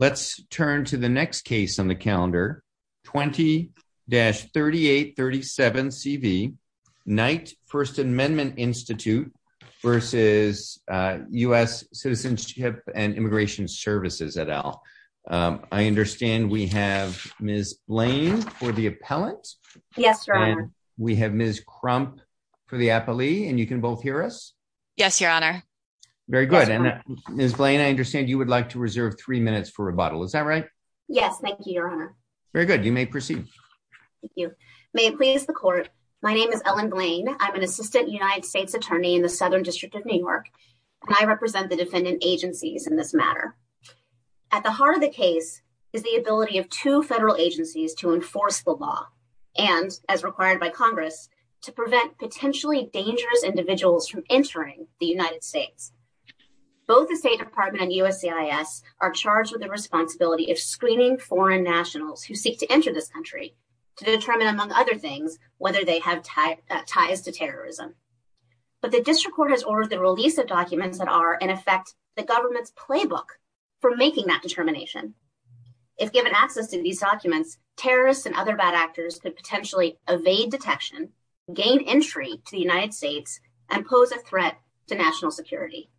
Let's turn to the next case on the calendar 20-3837CV, Knight First Amendment Institute v. U.S. Citizenship and Immigration Services, et al. I understand we have Ms. Blaine for the appellant. Yes, Your Honor. And we have Ms. Crump for the appellee, and you can both hear us. Yes, Your Honor. Very good. And Ms. Blaine, I understand you would like to reserve three minutes for rebuttal. Is that right? Yes, thank you, Your Honor. Very good. You may proceed. Thank you. May it please the Court, my name is Ellen Blaine. I'm an Assistant United States Attorney in the Southern District of New York, and I represent the defendant agencies in this matter. At the heart of the case is the ability of two federal agencies to enforce the law and, as required by Congress, to prevent potentially dangerous individuals from entering the United States. Both the State Department and USCIS are charged with the responsibility of screening foreign nationals who seek to enter this country to determine, among other things, whether they have ties to terrorism. But the District Court has ordered the release of documents that are, in effect, the government's playbook for making that determination. If given access to these documents, terrorists and other bad actors could potentially evade detection, gain entry to the United States, and pose a threat to national security.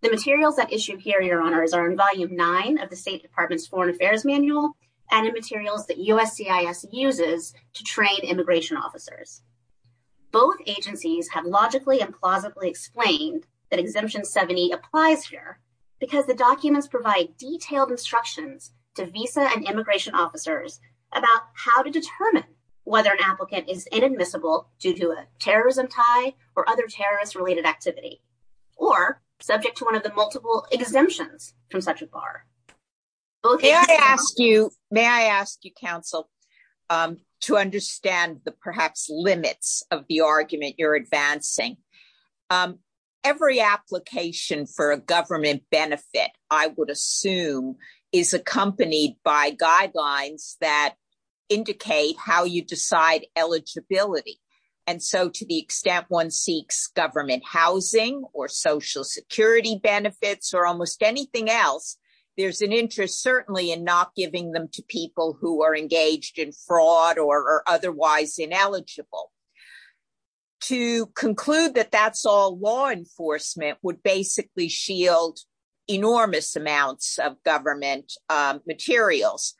The materials that issued here, Your Honor, are in Volume 9 of the State Department's Foreign Affairs Manual and in materials that USCIS uses to train immigration officers. Both agencies have logically and plausibly explained that Exemption 70 applies here because the documents provide detailed instructions to visa and immigration other terrorist-related activity or subject to one of the multiple exemptions from such a bar. May I ask you, counsel, to understand the, perhaps, limits of the argument you're advancing. Every application for a government benefit, I would assume, is accompanied by guidelines that one seeks government housing or social security benefits or almost anything else. There's an interest, certainly, in not giving them to people who are engaged in fraud or are otherwise ineligible. To conclude that that's all law enforcement would basically shield enormous amounts of government materials.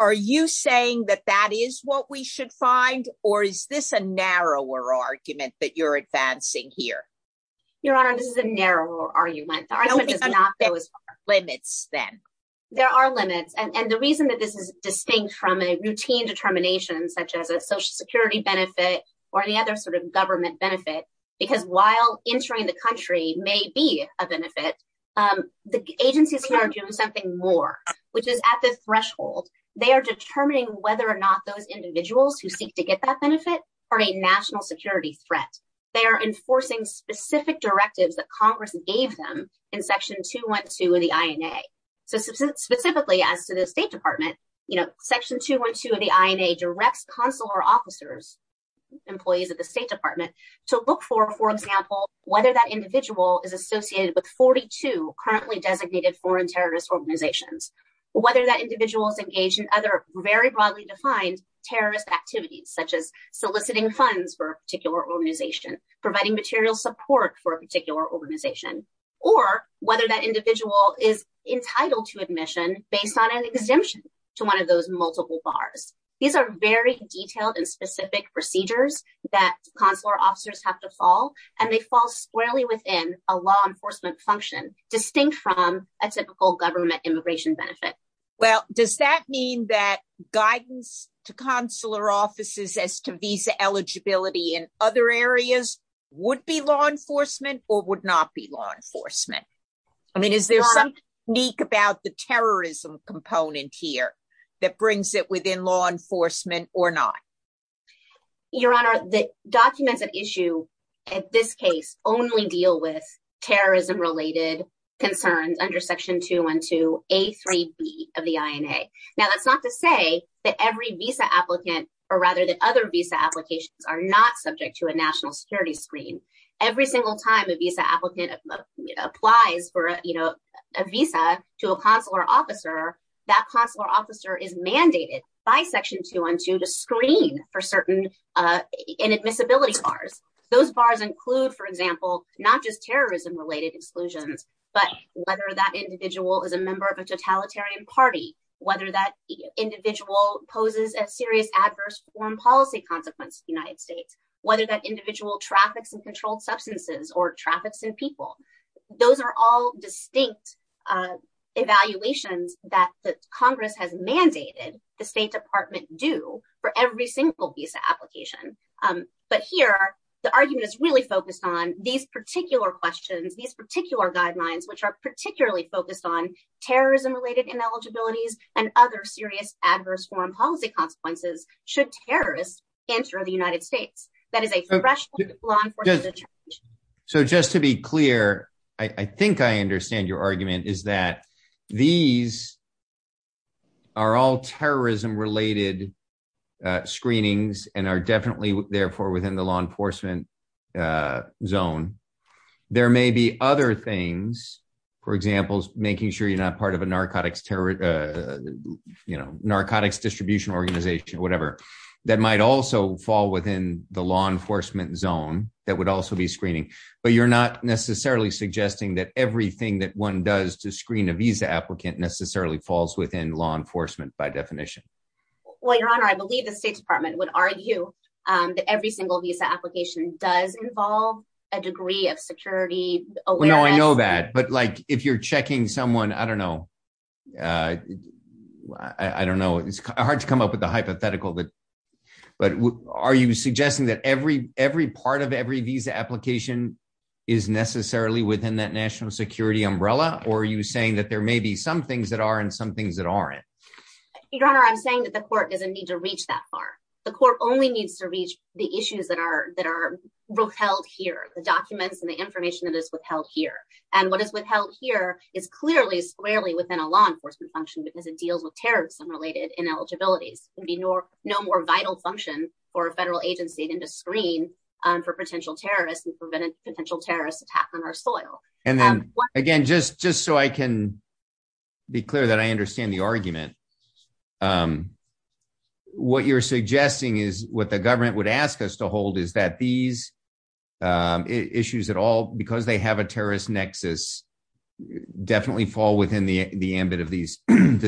Are you saying that that is what we should find, or is this a narrower argument that you're advancing here? Your Honor, this is a narrower argument. The argument does not go as far. There are limits then. There are limits, and the reason that this is distinct from a routine determination, such as a social security benefit or any other sort of government benefit, because while entering the country may be a benefit, the agencies here are doing something more, which is at the threshold. They are determining whether or not those individuals who seek to get that benefit are a national security threat. They are enforcing specific directives that Congress gave them in Section 212 of the INA. Specifically, as to the State Department, Section 212 of the INA directs consular officers, employees of the State Department, to look for, for example, whether that individual is associated with 42 currently designated foreign terrorist organizations, whether that individual is engaged in other very broadly defined terrorist activities, such as soliciting funds for a particular organization, providing material support for a particular organization, or whether that individual is entitled to admission based on an exemption to one of those multiple bars. These are very detailed and specific procedures that consular officers have to follow, and they fall squarely within a law enforcement function distinct from a typical government immigration benefit. Well, does that mean that guidance to consular offices as to visa eligibility in other areas would be law enforcement or would not be law enforcement? I mean, is there something unique about the terrorism component here that brings it within law enforcement or not? Your Honor, the documents at issue at this case only deal with terrorism-related concerns under Section 212A3B of the INA. Now, that's not to say that every visa applicant, or rather that other visa applications are not subject to a national security screen. Every single time a visa applicant applies for a visa to a consular officer, that consular officer is mandated by Section 212 to screen for certain inadmissibility bars. Those bars include, for example, not just terrorism-related exclusions, but whether that individual is a member of a totalitarian party, whether that individual poses a serious adverse foreign policy consequence to the United States, whether that individual traffics in controlled substances or traffics in people. Those are all distinct evaluations that Congress has mandated the State Department do for every single visa are particularly focused on terrorism-related ineligibilities and other serious adverse foreign policy consequences should terrorists enter the United States. That is a congressional law enforcement determination. So just to be clear, I think I understand your argument is that these are all terrorism-related screenings and are definitely therefore within the law enforcement zone. There may be other things, for example, making sure you're not part of a narcotics distribution organization, whatever, that might also fall within the law enforcement zone that would also be screening, but you're not necessarily suggesting that everything that one does to screen a visa applicant necessarily falls within law enforcement by definition. Well, Your Honor, I believe the State Department would argue that every single visa application does involve a degree of security awareness. Well, no, I know that, but like if you're checking someone, I don't know. I don't know. It's hard to come up with a hypothetical, but are you suggesting that every part of every visa application is necessarily within that national security umbrella, or are you saying that there may be some things that are and some things that aren't? Your Honor, I'm saying that the court doesn't need to reach that far. The court only needs to reach the issues that are withheld here, the documents and the information that is withheld here. And what is withheld here is clearly squarely within a law enforcement function because it deals with terrorism-related ineligibilities. It would be no more vital function for a federal agency than to screen for potential terrorists and prevent a potential terrorist attack on our soil. And then, again, just so I can be clear that I understand the question, what you're suggesting is what the government would ask us to hold is that these issues at all, because they have a terrorist nexus, definitely fall within the ambit of this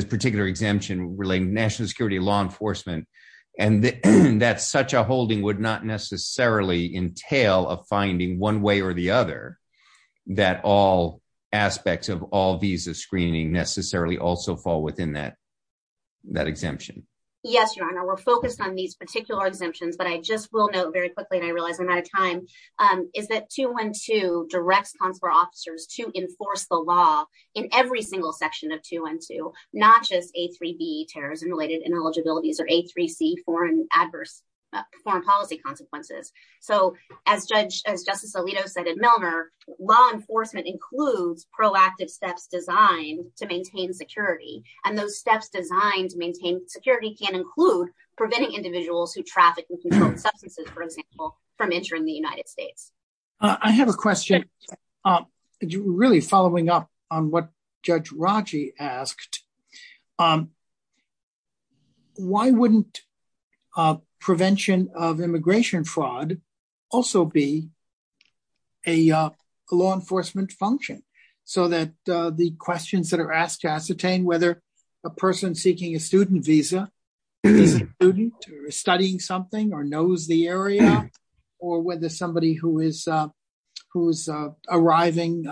particular exemption relating to national security law enforcement, and that such a holding would not necessarily entail a finding one way or the other that all aspects of all visa screening necessarily also fall within that exemption. Yes, Your Honor, we're focused on these particular exemptions, but I just will note very quickly, and I realize I'm out of time, is that 212 directs consular officers to enforce the law in every single section of 212, not just A3B terrorism-related ineligibilities or A3C foreign policy consequences. So as Justice Alito said at the beginning of the question, we're focused on those steps that are designed to maintain security, and those steps designed to maintain security can include preventing individuals who traffic and control substances, for example, from entering the United States. I have a question, really following up on what Judge Raji asked, why wouldn't prevention of immigration fraud also be a law enforcement function? So that the questions that are asked to ascertain whether a person seeking a student visa is a student or studying something or knows the area, or whether somebody who is arriving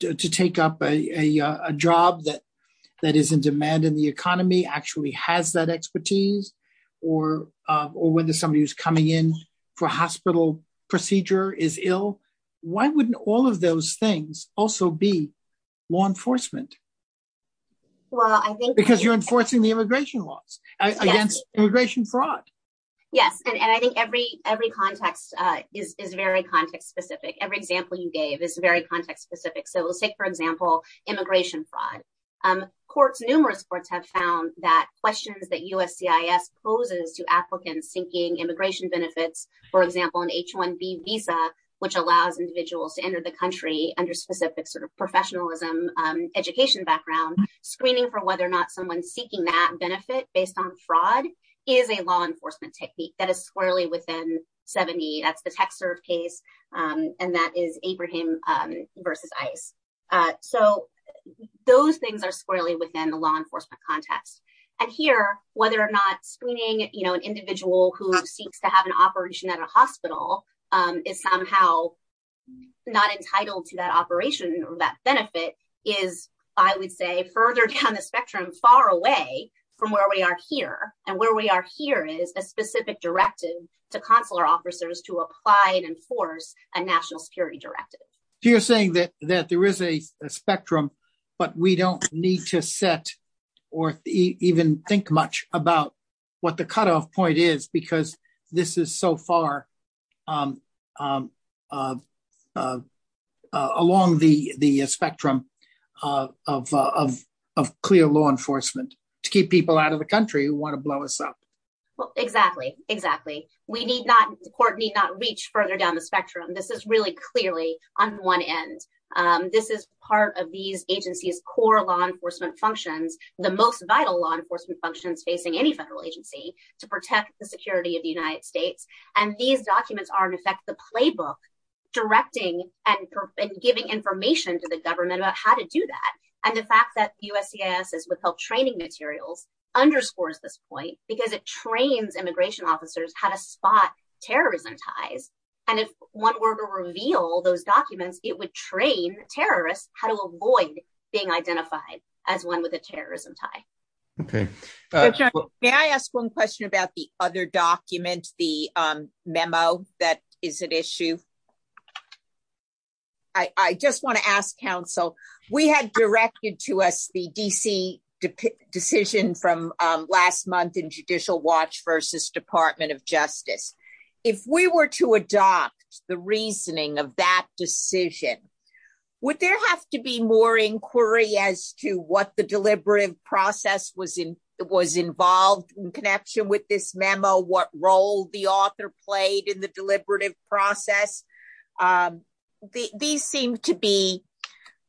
to take up a job that is in demand in the hospital procedure is ill, why wouldn't all of those things also be law enforcement? Because you're enforcing the immigration laws against immigration fraud. Yes, and I think every context is very context-specific. Every example you gave is very context-specific. So let's take, for example, immigration fraud. Numerous courts have found that questions that USCIS poses to applicants seeking immigration benefits, for example, an H-1B visa, which allows individuals to enter the country under specific sort of professionalism, education background, screening for whether or not someone seeking that benefit based on fraud is a law enforcement technique that is squarely within 70. That's the TechServe case, and that is Abraham versus ICE. So those things are squarely within the law enforcement context. And here, whether or not screening an individual who seeks to have an operation at a hospital is somehow not entitled to that operation or that benefit is, I would say, further down the spectrum, far away from where we are here. And where we are here is a specific directive to consular officers to apply and enforce a national security directive. So you're saying that there is a spectrum, but we don't need to set or even think much about what the cutoff point is because this is so far along the spectrum of clear law enforcement to keep people out of the country who want to blow us up. Well, exactly. Exactly. The court need not reach further down the spectrum. This is really agency's core law enforcement functions, the most vital law enforcement functions facing any federal agency to protect the security of the United States. And these documents are, in effect, the playbook directing and giving information to the government about how to do that. And the fact that USCIS is withheld training materials underscores this point because it trains immigration officers how to spot terrorism ties. And if one were to reveal those documents, it would be to avoid being identified as one with a terrorism tie. May I ask one question about the other document, the memo that is at issue? I just want to ask counsel, we had directed to us the D.C. decision from last month in judicial watch versus Department of Justice. If we were to adopt the reasoning of that decision, would there have to be more inquiry as to what the deliberative process was involved in connection with this memo? What role the author played in the deliberative process? These seem to be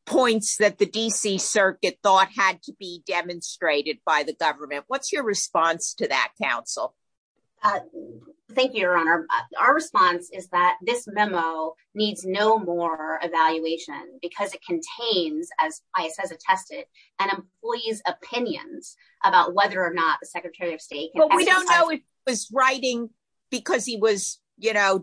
points that the D.C. circuit thought had to be demonstrated by the government. What's your response to that, counsel? Thank you, Your Honor. Our response is that this memo needs no more evaluation because it contains, as ICE has attested, an employee's opinions about whether or not the Secretary of State can exercise- Well, we don't know if he was writing because he was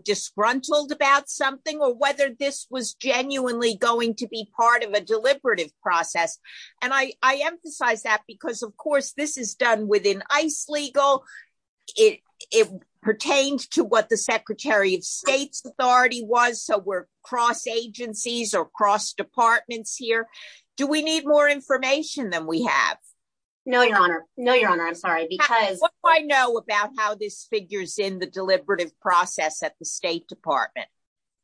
disgruntled about something or whether this was genuinely going to be part of a deliberative process. And I emphasize that because, of course, this is done within ICE legal. It pertains to what the Secretary of State's authority was, so we're cross-agencies or cross-departments here. Do we need more information than we have? No, Your Honor. No, Your Honor. I'm sorry because- How do I know about how this figures in the deliberative process at the State Department?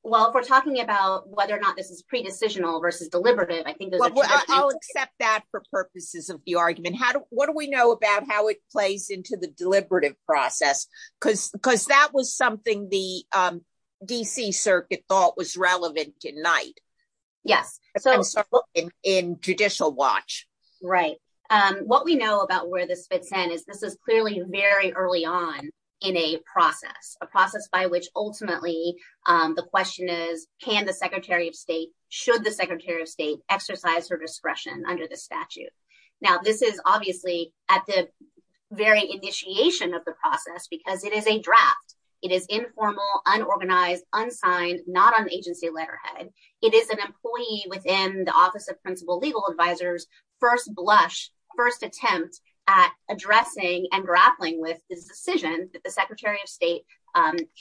Well, if we're talking about whether or not this is pre-decisional versus deliberative, I think- I'll accept that for purposes of the argument. What do we know about how it plays into the deliberative process? Because that was something the D.C. Circuit thought was relevant tonight. Yes. In judicial watch. Right. What we know about where this fits in is this is clearly very early on in a process, a process by which ultimately the question is, can the Secretary of State, should the Secretary of State exercise her discretion under the statute? Now, this is obviously at the very initiation of the process because it is a draft. It is informal, unorganized, unsigned, not on agency letterhead. It is an employee within the Office of Principal Legal Advisors first blush, first attempt at addressing and grappling with this decision that the Secretary of State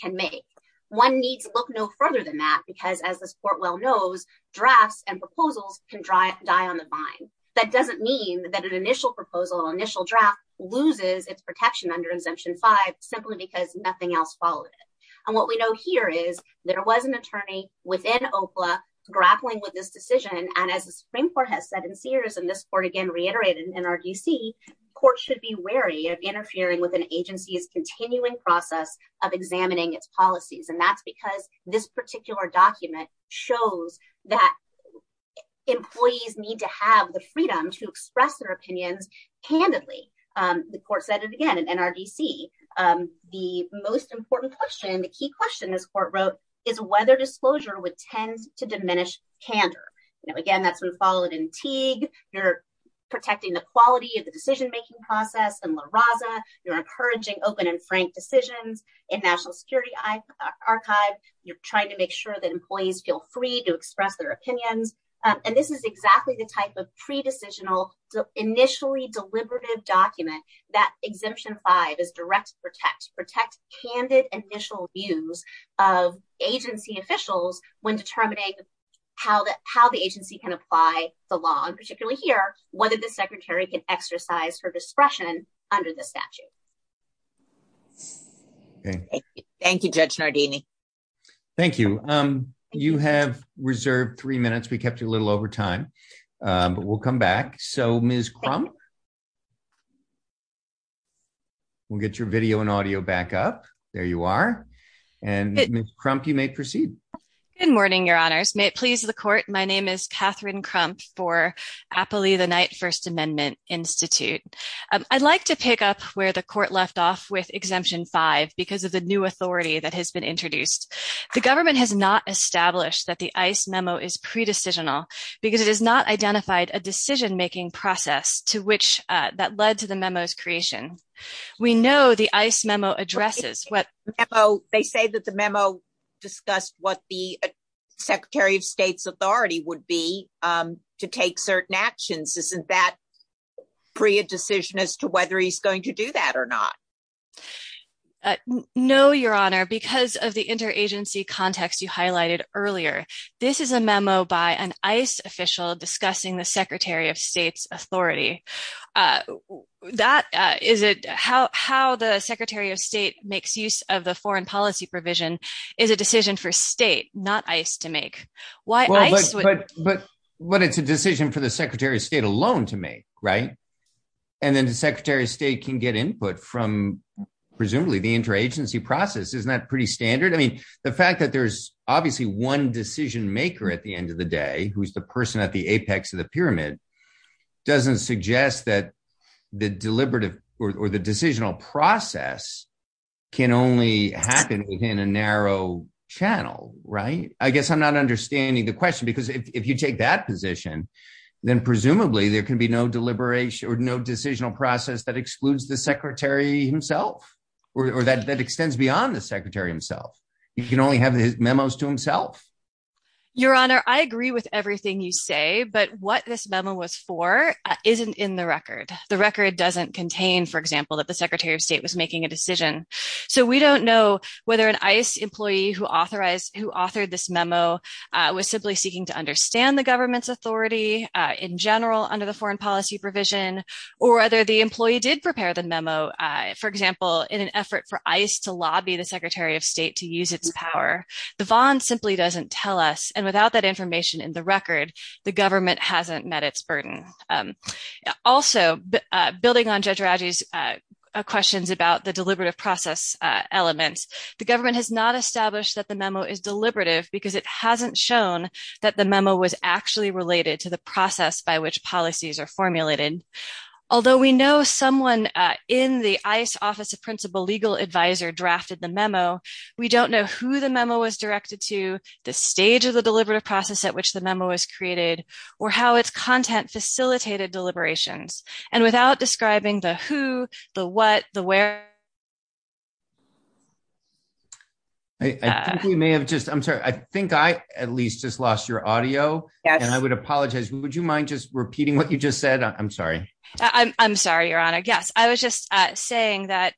can make. One needs to look no further than that because as this court well knows, drafts and proposals can die on the vine. That doesn't mean that an initial proposal, initial draft loses its protection under Exemption 5 simply because nothing else followed it. And what we know here is there was an attorney within OPLA grappling with this decision. And as the Supreme Court has said in Sears, and this court again reiterated in our D.C., courts should be wary of interfering with an agency's continuing process of examining its policies. And that's because this particular document shows that employees need to have the freedom to express their opinions candidly. The court said it again in NRDC. The most important question, the key question this court wrote is whether disclosure would tend to diminish candor. Again, that's been followed in Teague. You're protecting the quality of the National Security Archive. You're trying to make sure that employees feel free to express their opinions. And this is exactly the type of pre-decisional, initially deliberative document that Exemption 5 is directed to protect. Protect candid initial views of agency officials when determining how the agency can apply the law, and particularly here, whether the Secretary can exercise her discretion under the statute. Okay. Thank you, Judge Nardini. Thank you. You have reserved three minutes. We kept you a little over time. But we'll come back. So, Ms. Crump, we'll get your video and audio back up. There you are. And Ms. Crump, you may proceed. Good morning, Your Honors. May it please the court. My name is Katherine Crump for Appley the Knight First Amendment Institute. I'd like to pick up where the court left off with Exemption 5 because of the new authority that has been introduced. The government has not established that the ICE memo is pre-decisional because it has not identified a decision-making process that led to the memo's creation. We know the would be to take certain actions. Isn't that pre-decision as to whether he's going to do that or not? No, Your Honor. Because of the interagency context you highlighted earlier, this is a memo by an ICE official discussing the Secretary of State's authority. How the Secretary of State makes use of the foreign policy provision is a decision for State, not ICE, to make. But it's a decision for the Secretary of State alone to make, right? And then the Secretary of State can get input from presumably the interagency process. Isn't that pretty standard? I mean, the fact that there's obviously one decision-maker at the end of the day who's the person at the apex of the pyramid doesn't suggest that the deliberative or the decisional process can only happen within a narrow channel, right? I guess I'm not understanding the question because if you take that position, then presumably there can be no deliberation or no decisional process that excludes the Secretary himself or that extends beyond the Secretary himself. He can only have his memos to himself. Your Honor, I agree with everything you say, but what this memo was for isn't in the record. The record doesn't contain, for example, that the Secretary of State was making a decision. So we don't know whether an ICE employee who authored this memo was simply seeking to understand the government's authority in general under the foreign policy provision or whether the employee did prepare the memo, for example, in an effort for ICE to lobby the Secretary of State to use its power. The Vaughn simply doesn't tell us, and without that information in the record, the government hasn't met its burden. Also, building on Judge Raji's questions about the deliberative process element, the government has not established that the memo is deliberative because it hasn't shown that the memo was actually related to the process by which policies are formulated. Although we know someone in the ICE Office of Principal Legal Advisor drafted the memo, we don't know who the memo was directed to, the stage of the deliberative process at which the memo was created, or how its content facilitated deliberations. And without describing the who, the what, the where... I think we may have just... I'm sorry. I think I at least just lost your audio. Yes. And I would apologize. Would you mind just repeating what you just said? I'm sorry. I'm sorry, Your Honor. Yes. I was just saying that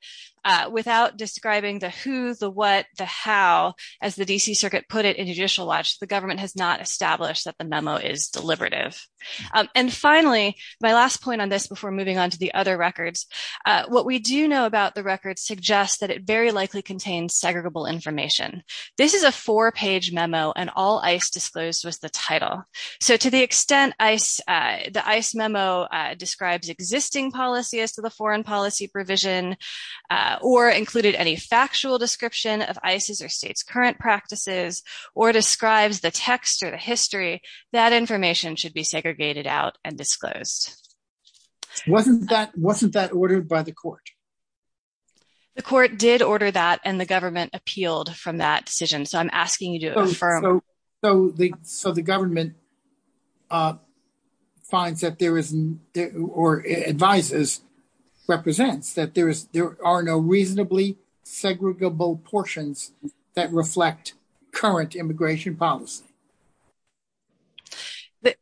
without describing the who, the what, the how, as the D.C. Circuit put it in Judicial Watch, the government has not established that the memo is deliberative. And finally, my last point on this before moving on to the other records, what we do know about the record suggests that it very likely contains segregable information. This is a four-page memo, and all ICE disclosed was the title. So to the extent the ICE memo describes existing policy as to the foreign policy provision or included any factual description of ICE's or state's current practices, or describes the text or the history, that information should be segregated out and disclosed. Wasn't that ordered by the court? The court did order that, and the government appealed from that decision. So I'm asking you to affirm. So the government finds that there is... or advises, represents that there is... ...segregable portions that reflect current immigration policy.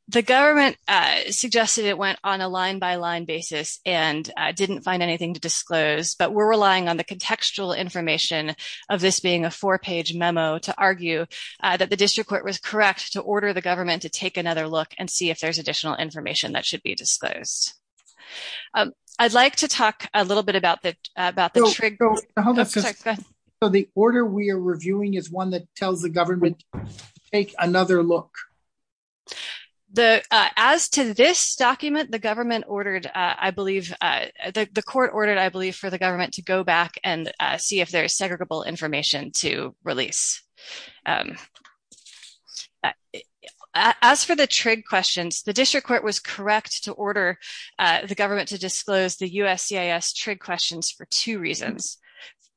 The government suggested it went on a line-by-line basis and didn't find anything to disclose, but we're relying on the contextual information of this being a four-page memo to argue that the district court was correct to order the government to take another look and see if there's additional information that should be disclosed. I'd like to talk a little bit about that, about the... Hold on. So the order we are reviewing is one that tells the government to take another look? As to this document, the government ordered, I believe... the court ordered, I believe, for the government to go back and see if there's segregable information to release. As for the trig questions, the district court was correct to order the government to disclose the USCIS trig questions for two reasons.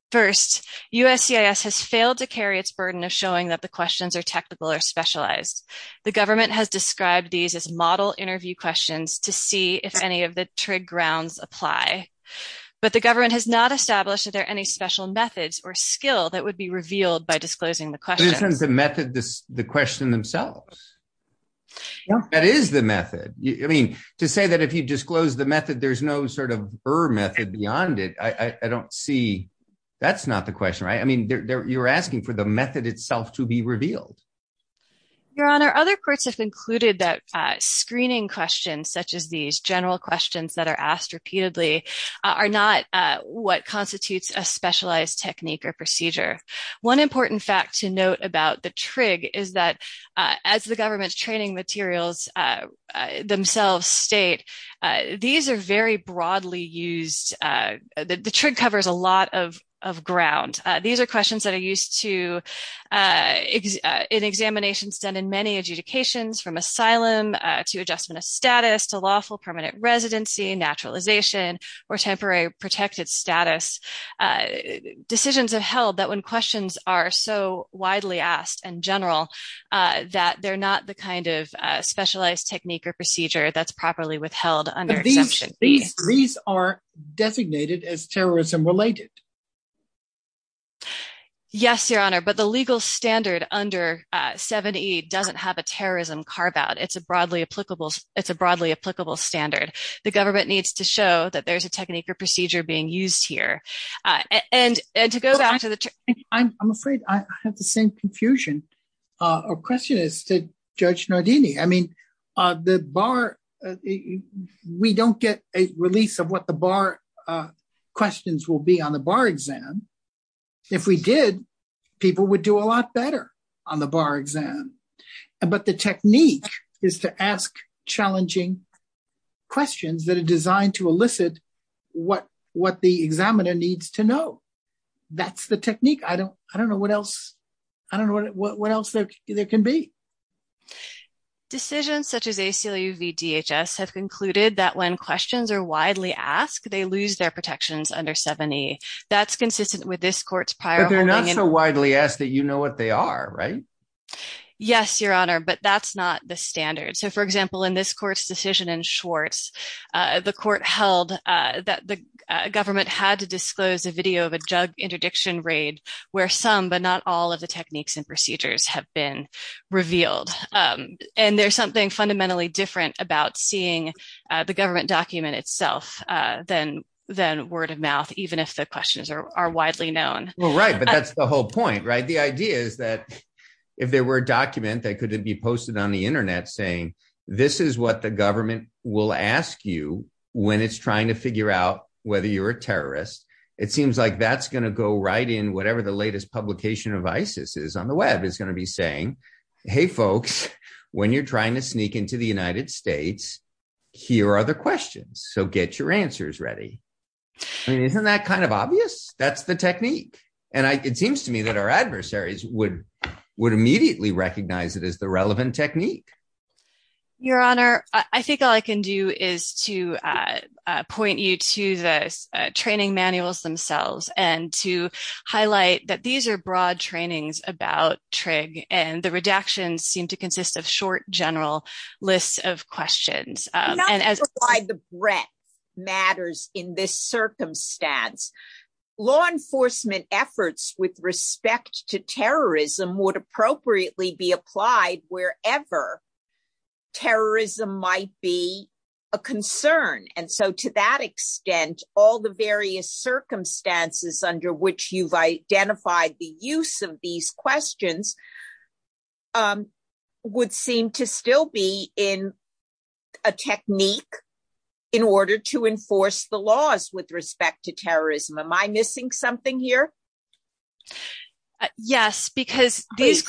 First, USCIS has failed to carry its burden of showing that the questions are technical or specialized. The government has described these as model interview questions to see if any of the trig grounds apply, but the government has not established that there are any special methods or skill that would be revealed by disclosing the questions. But isn't the method the question themselves? That is the method. I mean, to say that if you disclose the method, there's no sort of method beyond it. I don't see... that's not the question, right? I mean, you're asking for the method itself to be revealed. Your Honor, other courts have concluded that screening questions, such as these general questions that are asked repeatedly, are not what constitutes a specialized technique or procedure. One important fact to note about the trig is that as the government's training materials themselves state, these are very broadly used. The trig covers a lot of ground. These are questions that are used in examinations done in many adjudications, from asylum to adjustment of status to lawful permanent residency, naturalization, or temporary protected status. Decisions have held that when questions are so widely asked and general, that they're not the kind of specialized technique or procedure that's properly withheld under exemption. These are designated as terrorism-related? Yes, Your Honor, but the legal standard under 7E doesn't have a terrorism carve-out. It's a broadly applicable... it's a broadly applicable standard. The government needs to show that there's a procedure being used here. And to go back to the... I'm afraid I have the same confusion or question as did Judge Nardini. I mean, the bar... we don't get a release of what the bar questions will be on the bar exam. If we did, people would do a lot better on the bar exam. But the technique is to ask challenging questions that are designed to elicit what the examiner needs to know. That's the technique. I don't know what else... I don't know what else there can be. Decisions such as ACLU v DHS have concluded that when questions are widely asked, they lose their protections under 7E. That's consistent with this court's prior... But they're not so widely asked that you know what they are, right? Yes, Your Honor, but that's not the standard. So, for example, in this court's decision in Schwartz, the court held that the government had to disclose a video of a drug interdiction raid where some, but not all, of the techniques and procedures have been revealed. And there's something fundamentally different about seeing the government document itself than word of mouth, even if the questions are widely known. Well, right, but that's the whole point, right? The idea is that if there were a document that could be posted on the internet saying, this is what the government will ask you when it's trying to figure out whether you're a terrorist, it seems like that's going to go right in whatever the latest publication of ISIS is on the web. It's going to be saying, hey, folks, when you're trying to sneak into the United States, here are the questions. So get your answers ready. I mean, isn't that kind of obvious? That's the technique. And it seems to me that our adversaries would immediately recognize it as the relevant technique. Your Honor, I think all I can do is to point you to the training manuals themselves and to highlight that these are broad trainings about TRIG and the redactions seem to consist of short general lists of questions. Not to provide the breadth matters in this circumstance. Law enforcement efforts with respect to terrorism would appropriately be applied wherever terrorism might be a concern. And so to that extent, all the various circumstances under which you've identified the use of these questions would seem to still be in a technique in order to enforce the laws with respect to terrorism. Am I missing something here? Yes, because these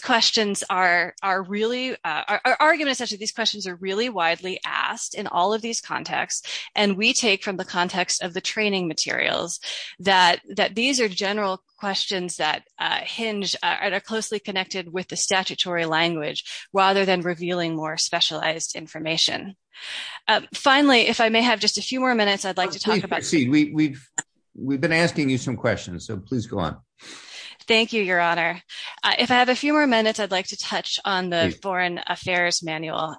questions are really, our argument is that these questions are really widely asked in all of these contexts. And we take from the context of the training materials that these are general questions that hinge and are closely connected with the statutory language rather than revealing more specialized information. Finally, if I may have just a few more minutes, I'd like to talk about- Oh, please proceed. We've been asking you some questions, so please go on. Thank you, Your Honor. If I have a few more minutes, I'd like to touch on the foreign affairs manual.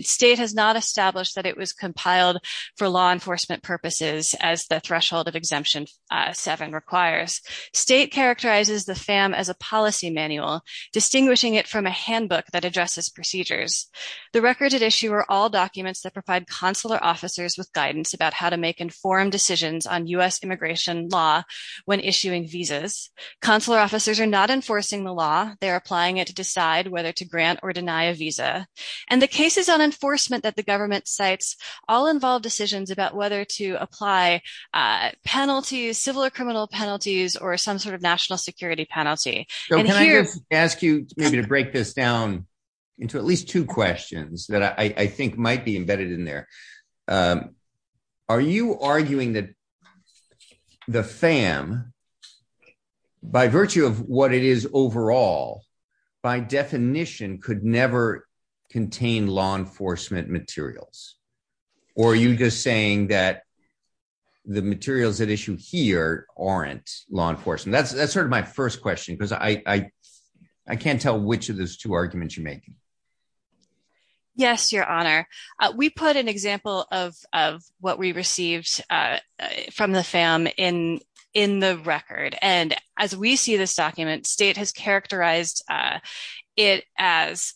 State has not established that it was compiled for law enforcement purposes as the threshold of exemption seven requires. State characterizes the FAM as a policy manual, distinguishing it from a handbook that addresses procedures. The records at issue are all documents that provide consular officers with guidance about how to make informed decisions on US immigration law when issuing visas. Consular officers are not enforcing the law. They're applying it to decide whether to grant or deny a visa. And the cases on enforcement that the government cites all involve decisions about whether to apply penalties, civil or criminal penalties, or some sort of national security penalty. So can I just ask you maybe to break this down into at least two questions that I think might be embedded in there. Are you arguing that the FAM, by virtue of what it is overall, by definition could never contain law enforcement materials? Or are you just saying that the materials at issue here aren't law enforcement? That's sort of my first question because I can't tell which of those two arguments you're making. Yes, Your Honor. We put an example of what we received from the FAM in the record. And as we see this document, state has characterized it as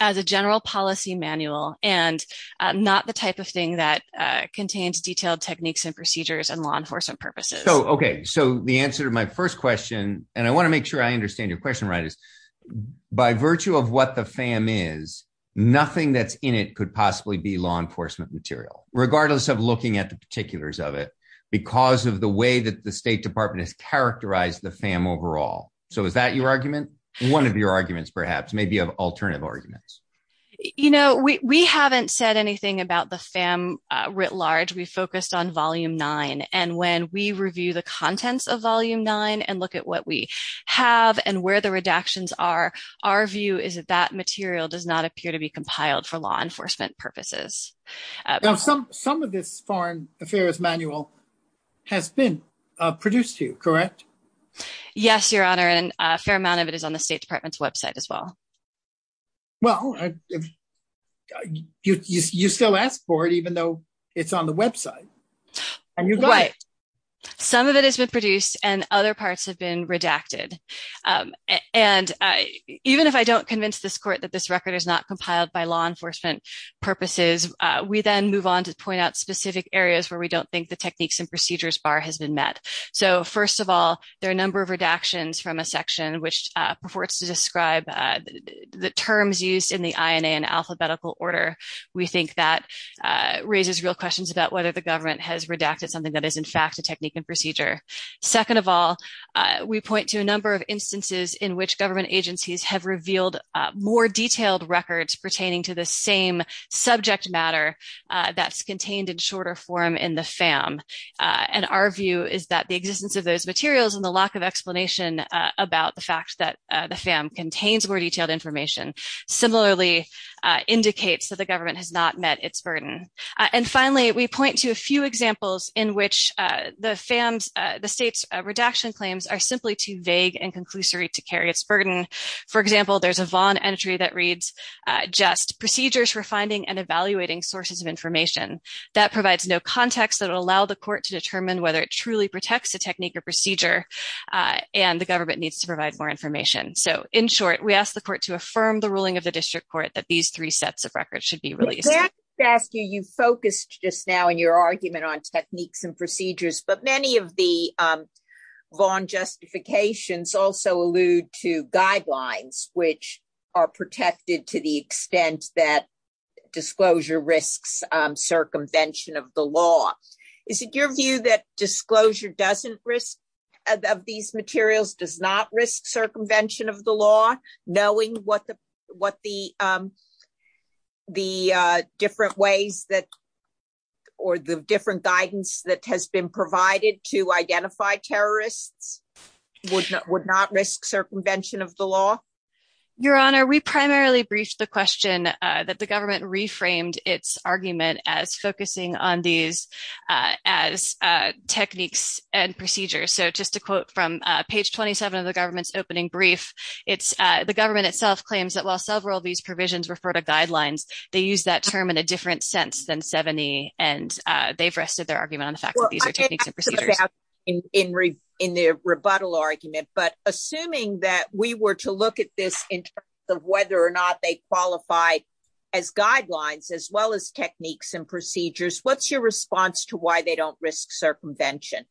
a general policy manual and not the type of thing that contains detailed techniques and procedures and law enforcement purposes. So, okay. So the answer to my first question, and I want to make sure I understand your question right, is by virtue of what the FAM is, nothing that's in it could possibly be law enforcement material, regardless of looking at the particulars of it, because of the way that the State Department has characterized the FAM overall. So is that your argument? One of your arguments, perhaps, maybe of alternative arguments. You know, we haven't said anything about the FAM writ large. We focused on volume nine. And when we review the contents of volume nine and look at what we have and where the redactions are, our view is that that material does not appear to be compiled for law enforcement purposes. Some of this foreign affairs manual has been produced to correct? Yes, Your Honor. And a fair amount of it is on the State Department's website as well. Well, you still asked for it, even though it's on the website. Some of it has been produced and other parts have been redacted. And even if I don't convince this court that this record is not compiled by law enforcement purposes, we then move on to point out specific areas where we don't think the techniques and procedures are correct. First of all, there are a number of redactions from a section which purports to describe the terms used in the INA in alphabetical order. We think that raises real questions about whether the government has redacted something that is, in fact, a technique and procedure. Second of all, we point to a number of instances in which government agencies have revealed more detailed records pertaining to the same subject matter that's contained in shorter form in the FAM. And our view is that the existence of those materials and the lack of explanation about the fact that the FAM contains more detailed information similarly indicates that the government has not met its burden. And finally, we point to a few examples in which the FAM's, the state's redaction claims are simply too vague and conclusory to carry its burden. For example, there's a Vaughn entry that reads, just procedures for finding and evaluating sources of information that provides no context that will allow the court to determine whether it truly protects a technique or procedure and the government needs to provide more information. So in short, we ask the court to affirm the ruling of the district court that these three sets of records should be released. I'm glad to ask you, you focused just now in your argument on techniques and procedures, but many of the Vaughn justifications also allude to guidelines which are protected to the extent that disclosure risks circumvention of the law. Is it your view that disclosure doesn't risk of these materials does not risk circumvention of the law, knowing what the different ways that, or the different guidance that has been provided to identify terrorists would not risk circumvention of the law? Your Honor, we primarily briefed the question that the government reframed its argument as focusing on these as techniques and procedures. So just to quote from page 27 of the government's opening brief, it's the government itself claims that while several of these provisions refer to guidelines, they use that term in a different than 70 and they've rested their argument on the fact that these are techniques and procedures. In the rebuttal argument, but assuming that we were to look at this in terms of whether or not they qualify as guidelines, as well as techniques and procedures, what's your response to why they don't risk circumvention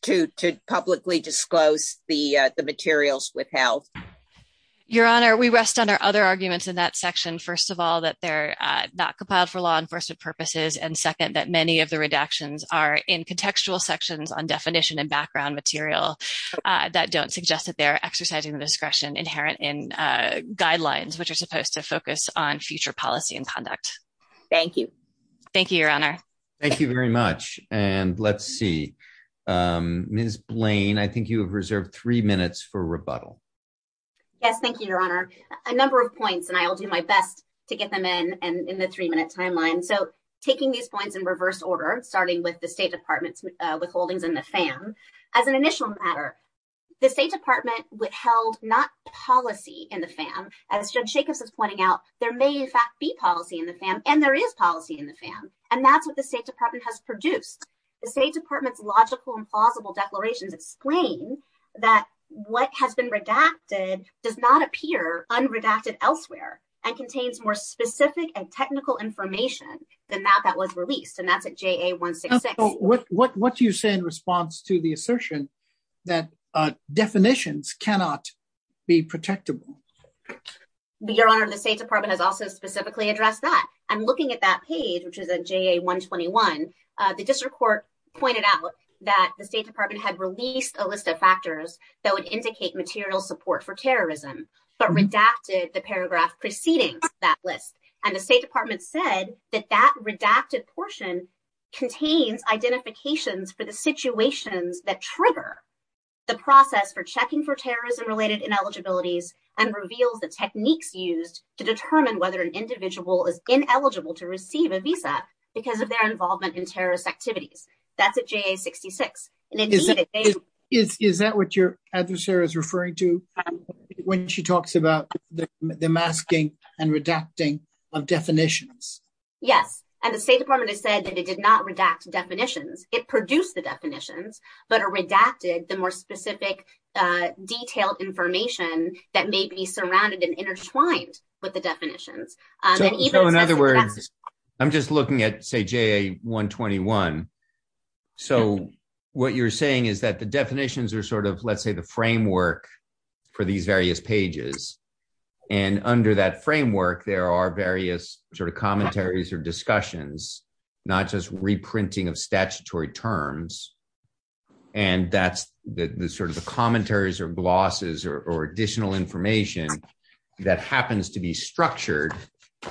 to publicly disclose the materials withheld? Your Honor, we rest on other arguments in that section. First of all, that they're not compiled for law enforcement purposes. And second, that many of the redactions are in contextual sections on definition and background material that don't suggest that they're exercising the discretion inherent in guidelines, which are supposed to focus on future policy and conduct. Thank you. Thank you, Your Honor. Thank you very much. And let's see, Ms. Blaine, I think you have reserved three minutes for rebuttal. Yes, thank you, Your Honor. A number of points, and I'll do my best to get them in, and in the three-minute timeline. So taking these points in reverse order, starting with the State Department's withholdings in the FAM, as an initial matter, the State Department withheld not policy in the FAM, as Judge Jacobs is pointing out, there may in fact be policy in the FAM, and there is policy in the FAM. And that's what the State Department has produced. The State Department's logical and plausible declarations explain that what has been redacted does not appear unredacted elsewhere, and contains more specific and technical information than that that was released. And that's at JA-166. What do you say in response to the assertion that definitions cannot be protectable? Your Honor, the State Department has also specifically addressed that. And looking at that page, which is at JA-121, the district court pointed out that the State Department had released a list of factors that would indicate material support for terrorism, but redacted the paragraph preceding that list. And the State Department said that that redacted portion contains identifications for the situations that trigger the process for checking for terrorism-related ineligibilities, and reveals the techniques used to determine whether an individual is ineligible to receive a visa because of their involvement in terrorist activities. That's at JA-66. Is that what your adversary is referring to when she talks about the masking and redacting of definitions? Yes. And the State Department has said that it did not redact definitions. It produced the definitions, but redacted the more specific detailed information that may be surrounded and intertwined with the definitions. So in other words, I'm just looking at, say, JA-121. So what you're saying is that the definitions are sort of, let's say, the framework for these various pages. And under that framework, there are various sort of commentaries or discussions, not just reprinting of statutory terms. And that's the sort of the commentaries or glosses or additional information that happens to be structured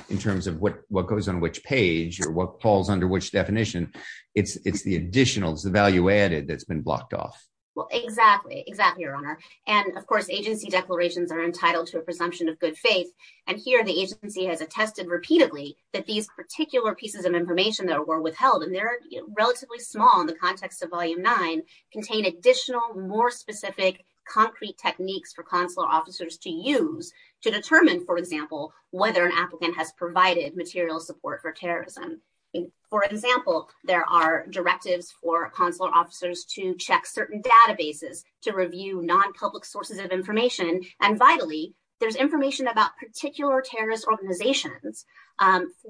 in terms of what goes on which page or what falls under which definition. It's the additionals, the value-added that's been blocked off. Well, exactly. Exactly, Your Honor. And of course, agency declarations are entitled to a presumption of good faith. And here, the agency has attested repeatedly that these particular pieces of information that were withheld, and they're relatively small in the context of Volume 9, contain additional more specific concrete techniques for consular officers to use to determine, for example, whether an individual is a target for terrorism. For example, there are directives for consular officers to check certain databases to review non-public sources of information. And vitally, there's information about particular terrorist organizations,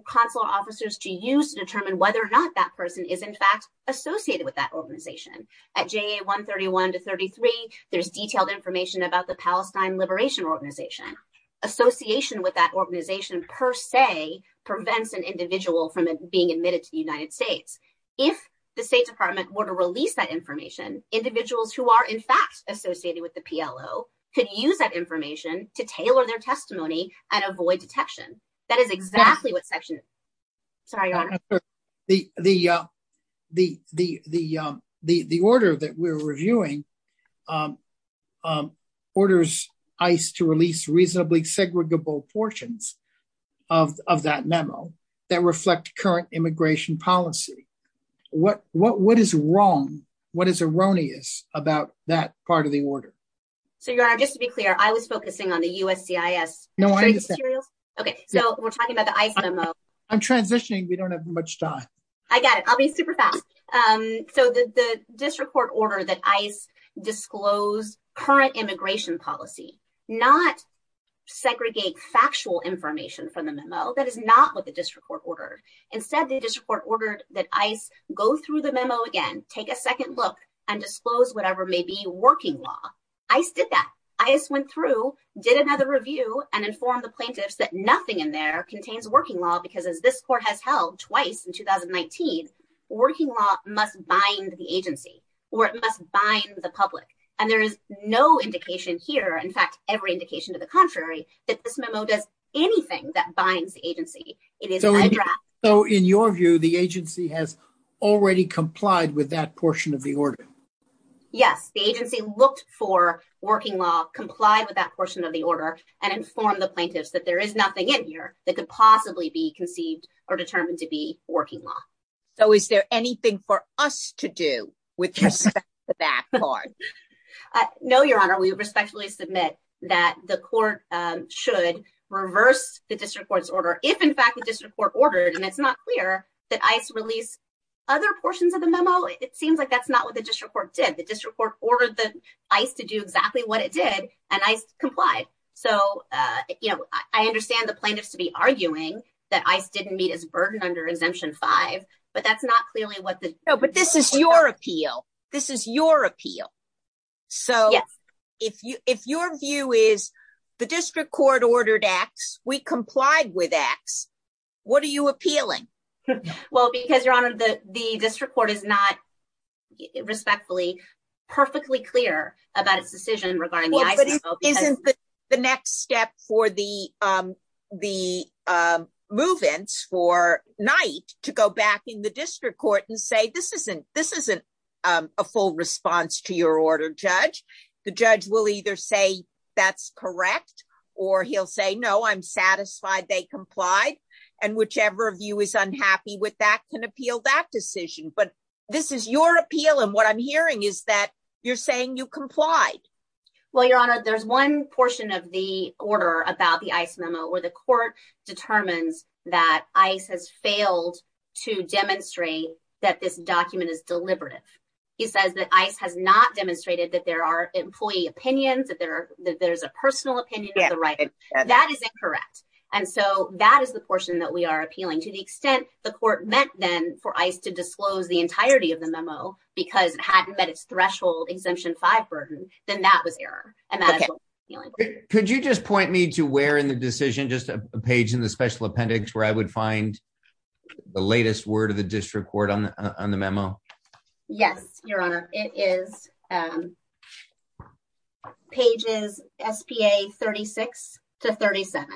consular officers to use to determine whether or not that person is, in fact, associated with that organization. At JA-131 to 33, there's detailed information about the Palestine Liberation Organization. Association with that organization, per se, prevents an individual from being admitted to the United States. If the State Department were to release that information, individuals who are, in fact, associated with the PLO could use that information to tailor their testimony and avoid detection. That is exactly what Section... Sorry, Your Honor. The order that we're reviewing orders ICE to release reasonably segregable portions of that memo that reflect current immigration policy. What is wrong, what is erroneous about that part of the order? So, Your Honor, just to be clear, I was focusing on the USCIS. No, I understand. Okay, so we're talking about the ICE memo. I'm transitioning. We don't have much time. I got it. I'll be super fast. So, the district court ordered that ICE disclose current immigration policy, not segregate factual information from the memo. That is not what the district court ordered. Instead, the district court ordered that ICE go through the memo again, take a second look, and disclose whatever may be working law. ICE did that. ICE went through, did another review, and informed the plaintiffs that nothing in there contains working law because, as this court has held twice in 2019, working law must bind the agency or it must bind the public. And there is no indication here, in fact, every indication to the contrary, that this memo does anything that binds the agency. It is... So, in your view, the agency has already complied with that portion of the order? Yes, the agency looked for working law, complied with that portion of the order, and informed the plaintiffs that there is nothing in here that could possibly be conceived or determined to be working law. So, is there anything for us to do with respect to that part? No, Your Honor. We respectfully submit that the court should reverse the district court's order if, in fact, the district court ordered. And it's not clear that ICE released other portions of the memo. It seems like that's not what the district court did. The district court ordered the ICE to do exactly what it did, and ICE complied. So, I understand the plaintiffs to be arguing that ICE didn't meet its burden under Exemption 5, but that's not clearly what the... No, but this is your appeal. This is your appeal. Yes. So, if your view is the district court ordered ACTS, we complied with ACTS, what are you appealing? Well, because, Your Honor, the district court is not respectfully, perfectly clear about its decision regarding the ICE memo because... Well, but isn't the next step for the move-ins for Knight to go back in the district court and say, this isn't a full response to your order, Judge? The judge will either say that's correct, or he'll say, no, I'm satisfied they complied. And whichever of you is unhappy with that can say, this is your appeal, and what I'm hearing is that you're saying you complied. Well, Your Honor, there's one portion of the order about the ICE memo where the court determines that ICE has failed to demonstrate that this document is deliberative. He says that ICE has not demonstrated that there are employee opinions, that there's a personal opinion of the writer. That is incorrect. And so, that is the portion that we are appealing. To the extent the court meant then for ICE to disclose the entirety of the memo because it hadn't met its threshold exemption five burden, then that was error. Okay. Could you just point me to where in the decision, just a page in the special appendix where I would find the latest word of the district court on the memo? Yes, Your Honor. It is pages SPA 36 to 37.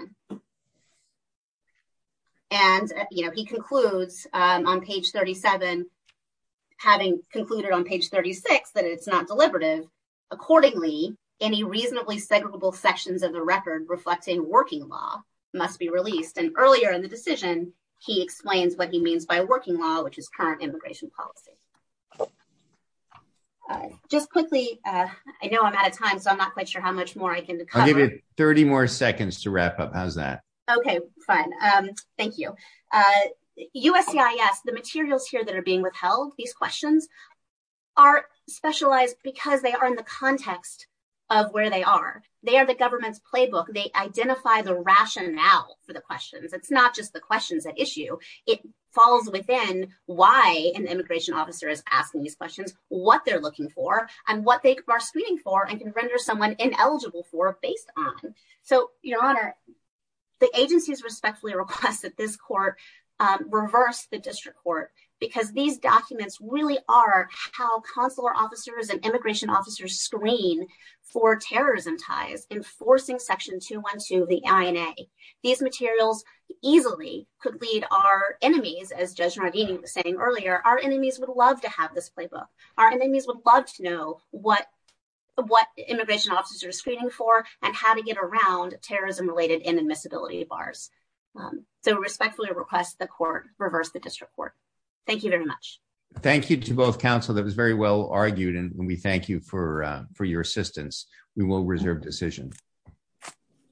And, you know, he concludes on page 37, having concluded on page 36 that it's not deliberative, accordingly, any reasonably segregable sections of the record reflecting working law must be released. And earlier in the decision, he explains what he means by working law, which is current immigration policy. All right. Just quickly, I know I'm out of time, so I'm not quite sure how much more I can cover. I'll give you 30 more seconds to wrap up. Okay. Fine. Thank you. USCIS, the materials here that are being withheld, these questions are specialized because they are in the context of where they are. They are the government's playbook. They identify the rationale for the questions. It's not just the questions at issue. It falls within why an immigration officer is asking these questions, what they're looking for, and what they are screening for and can render someone ineligible for based on. So, Your Honor, the agencies respectfully request that this court reverse the district court, because these documents really are how consular officers and immigration officers screen for terrorism ties, enforcing Section 212 of the INA. These materials easily could lead our enemies, as Judge Nardini was saying earlier, our enemies would love to have this playbook. Our enemies would love to know what immigration officers are screening for and how to get around terrorism-related inadmissibility bars. So, respectfully request the court reverse the district court. Thank you very much. Thank you to both counsel. That was very well argued, and we thank you for your assistance. We will reserve decision.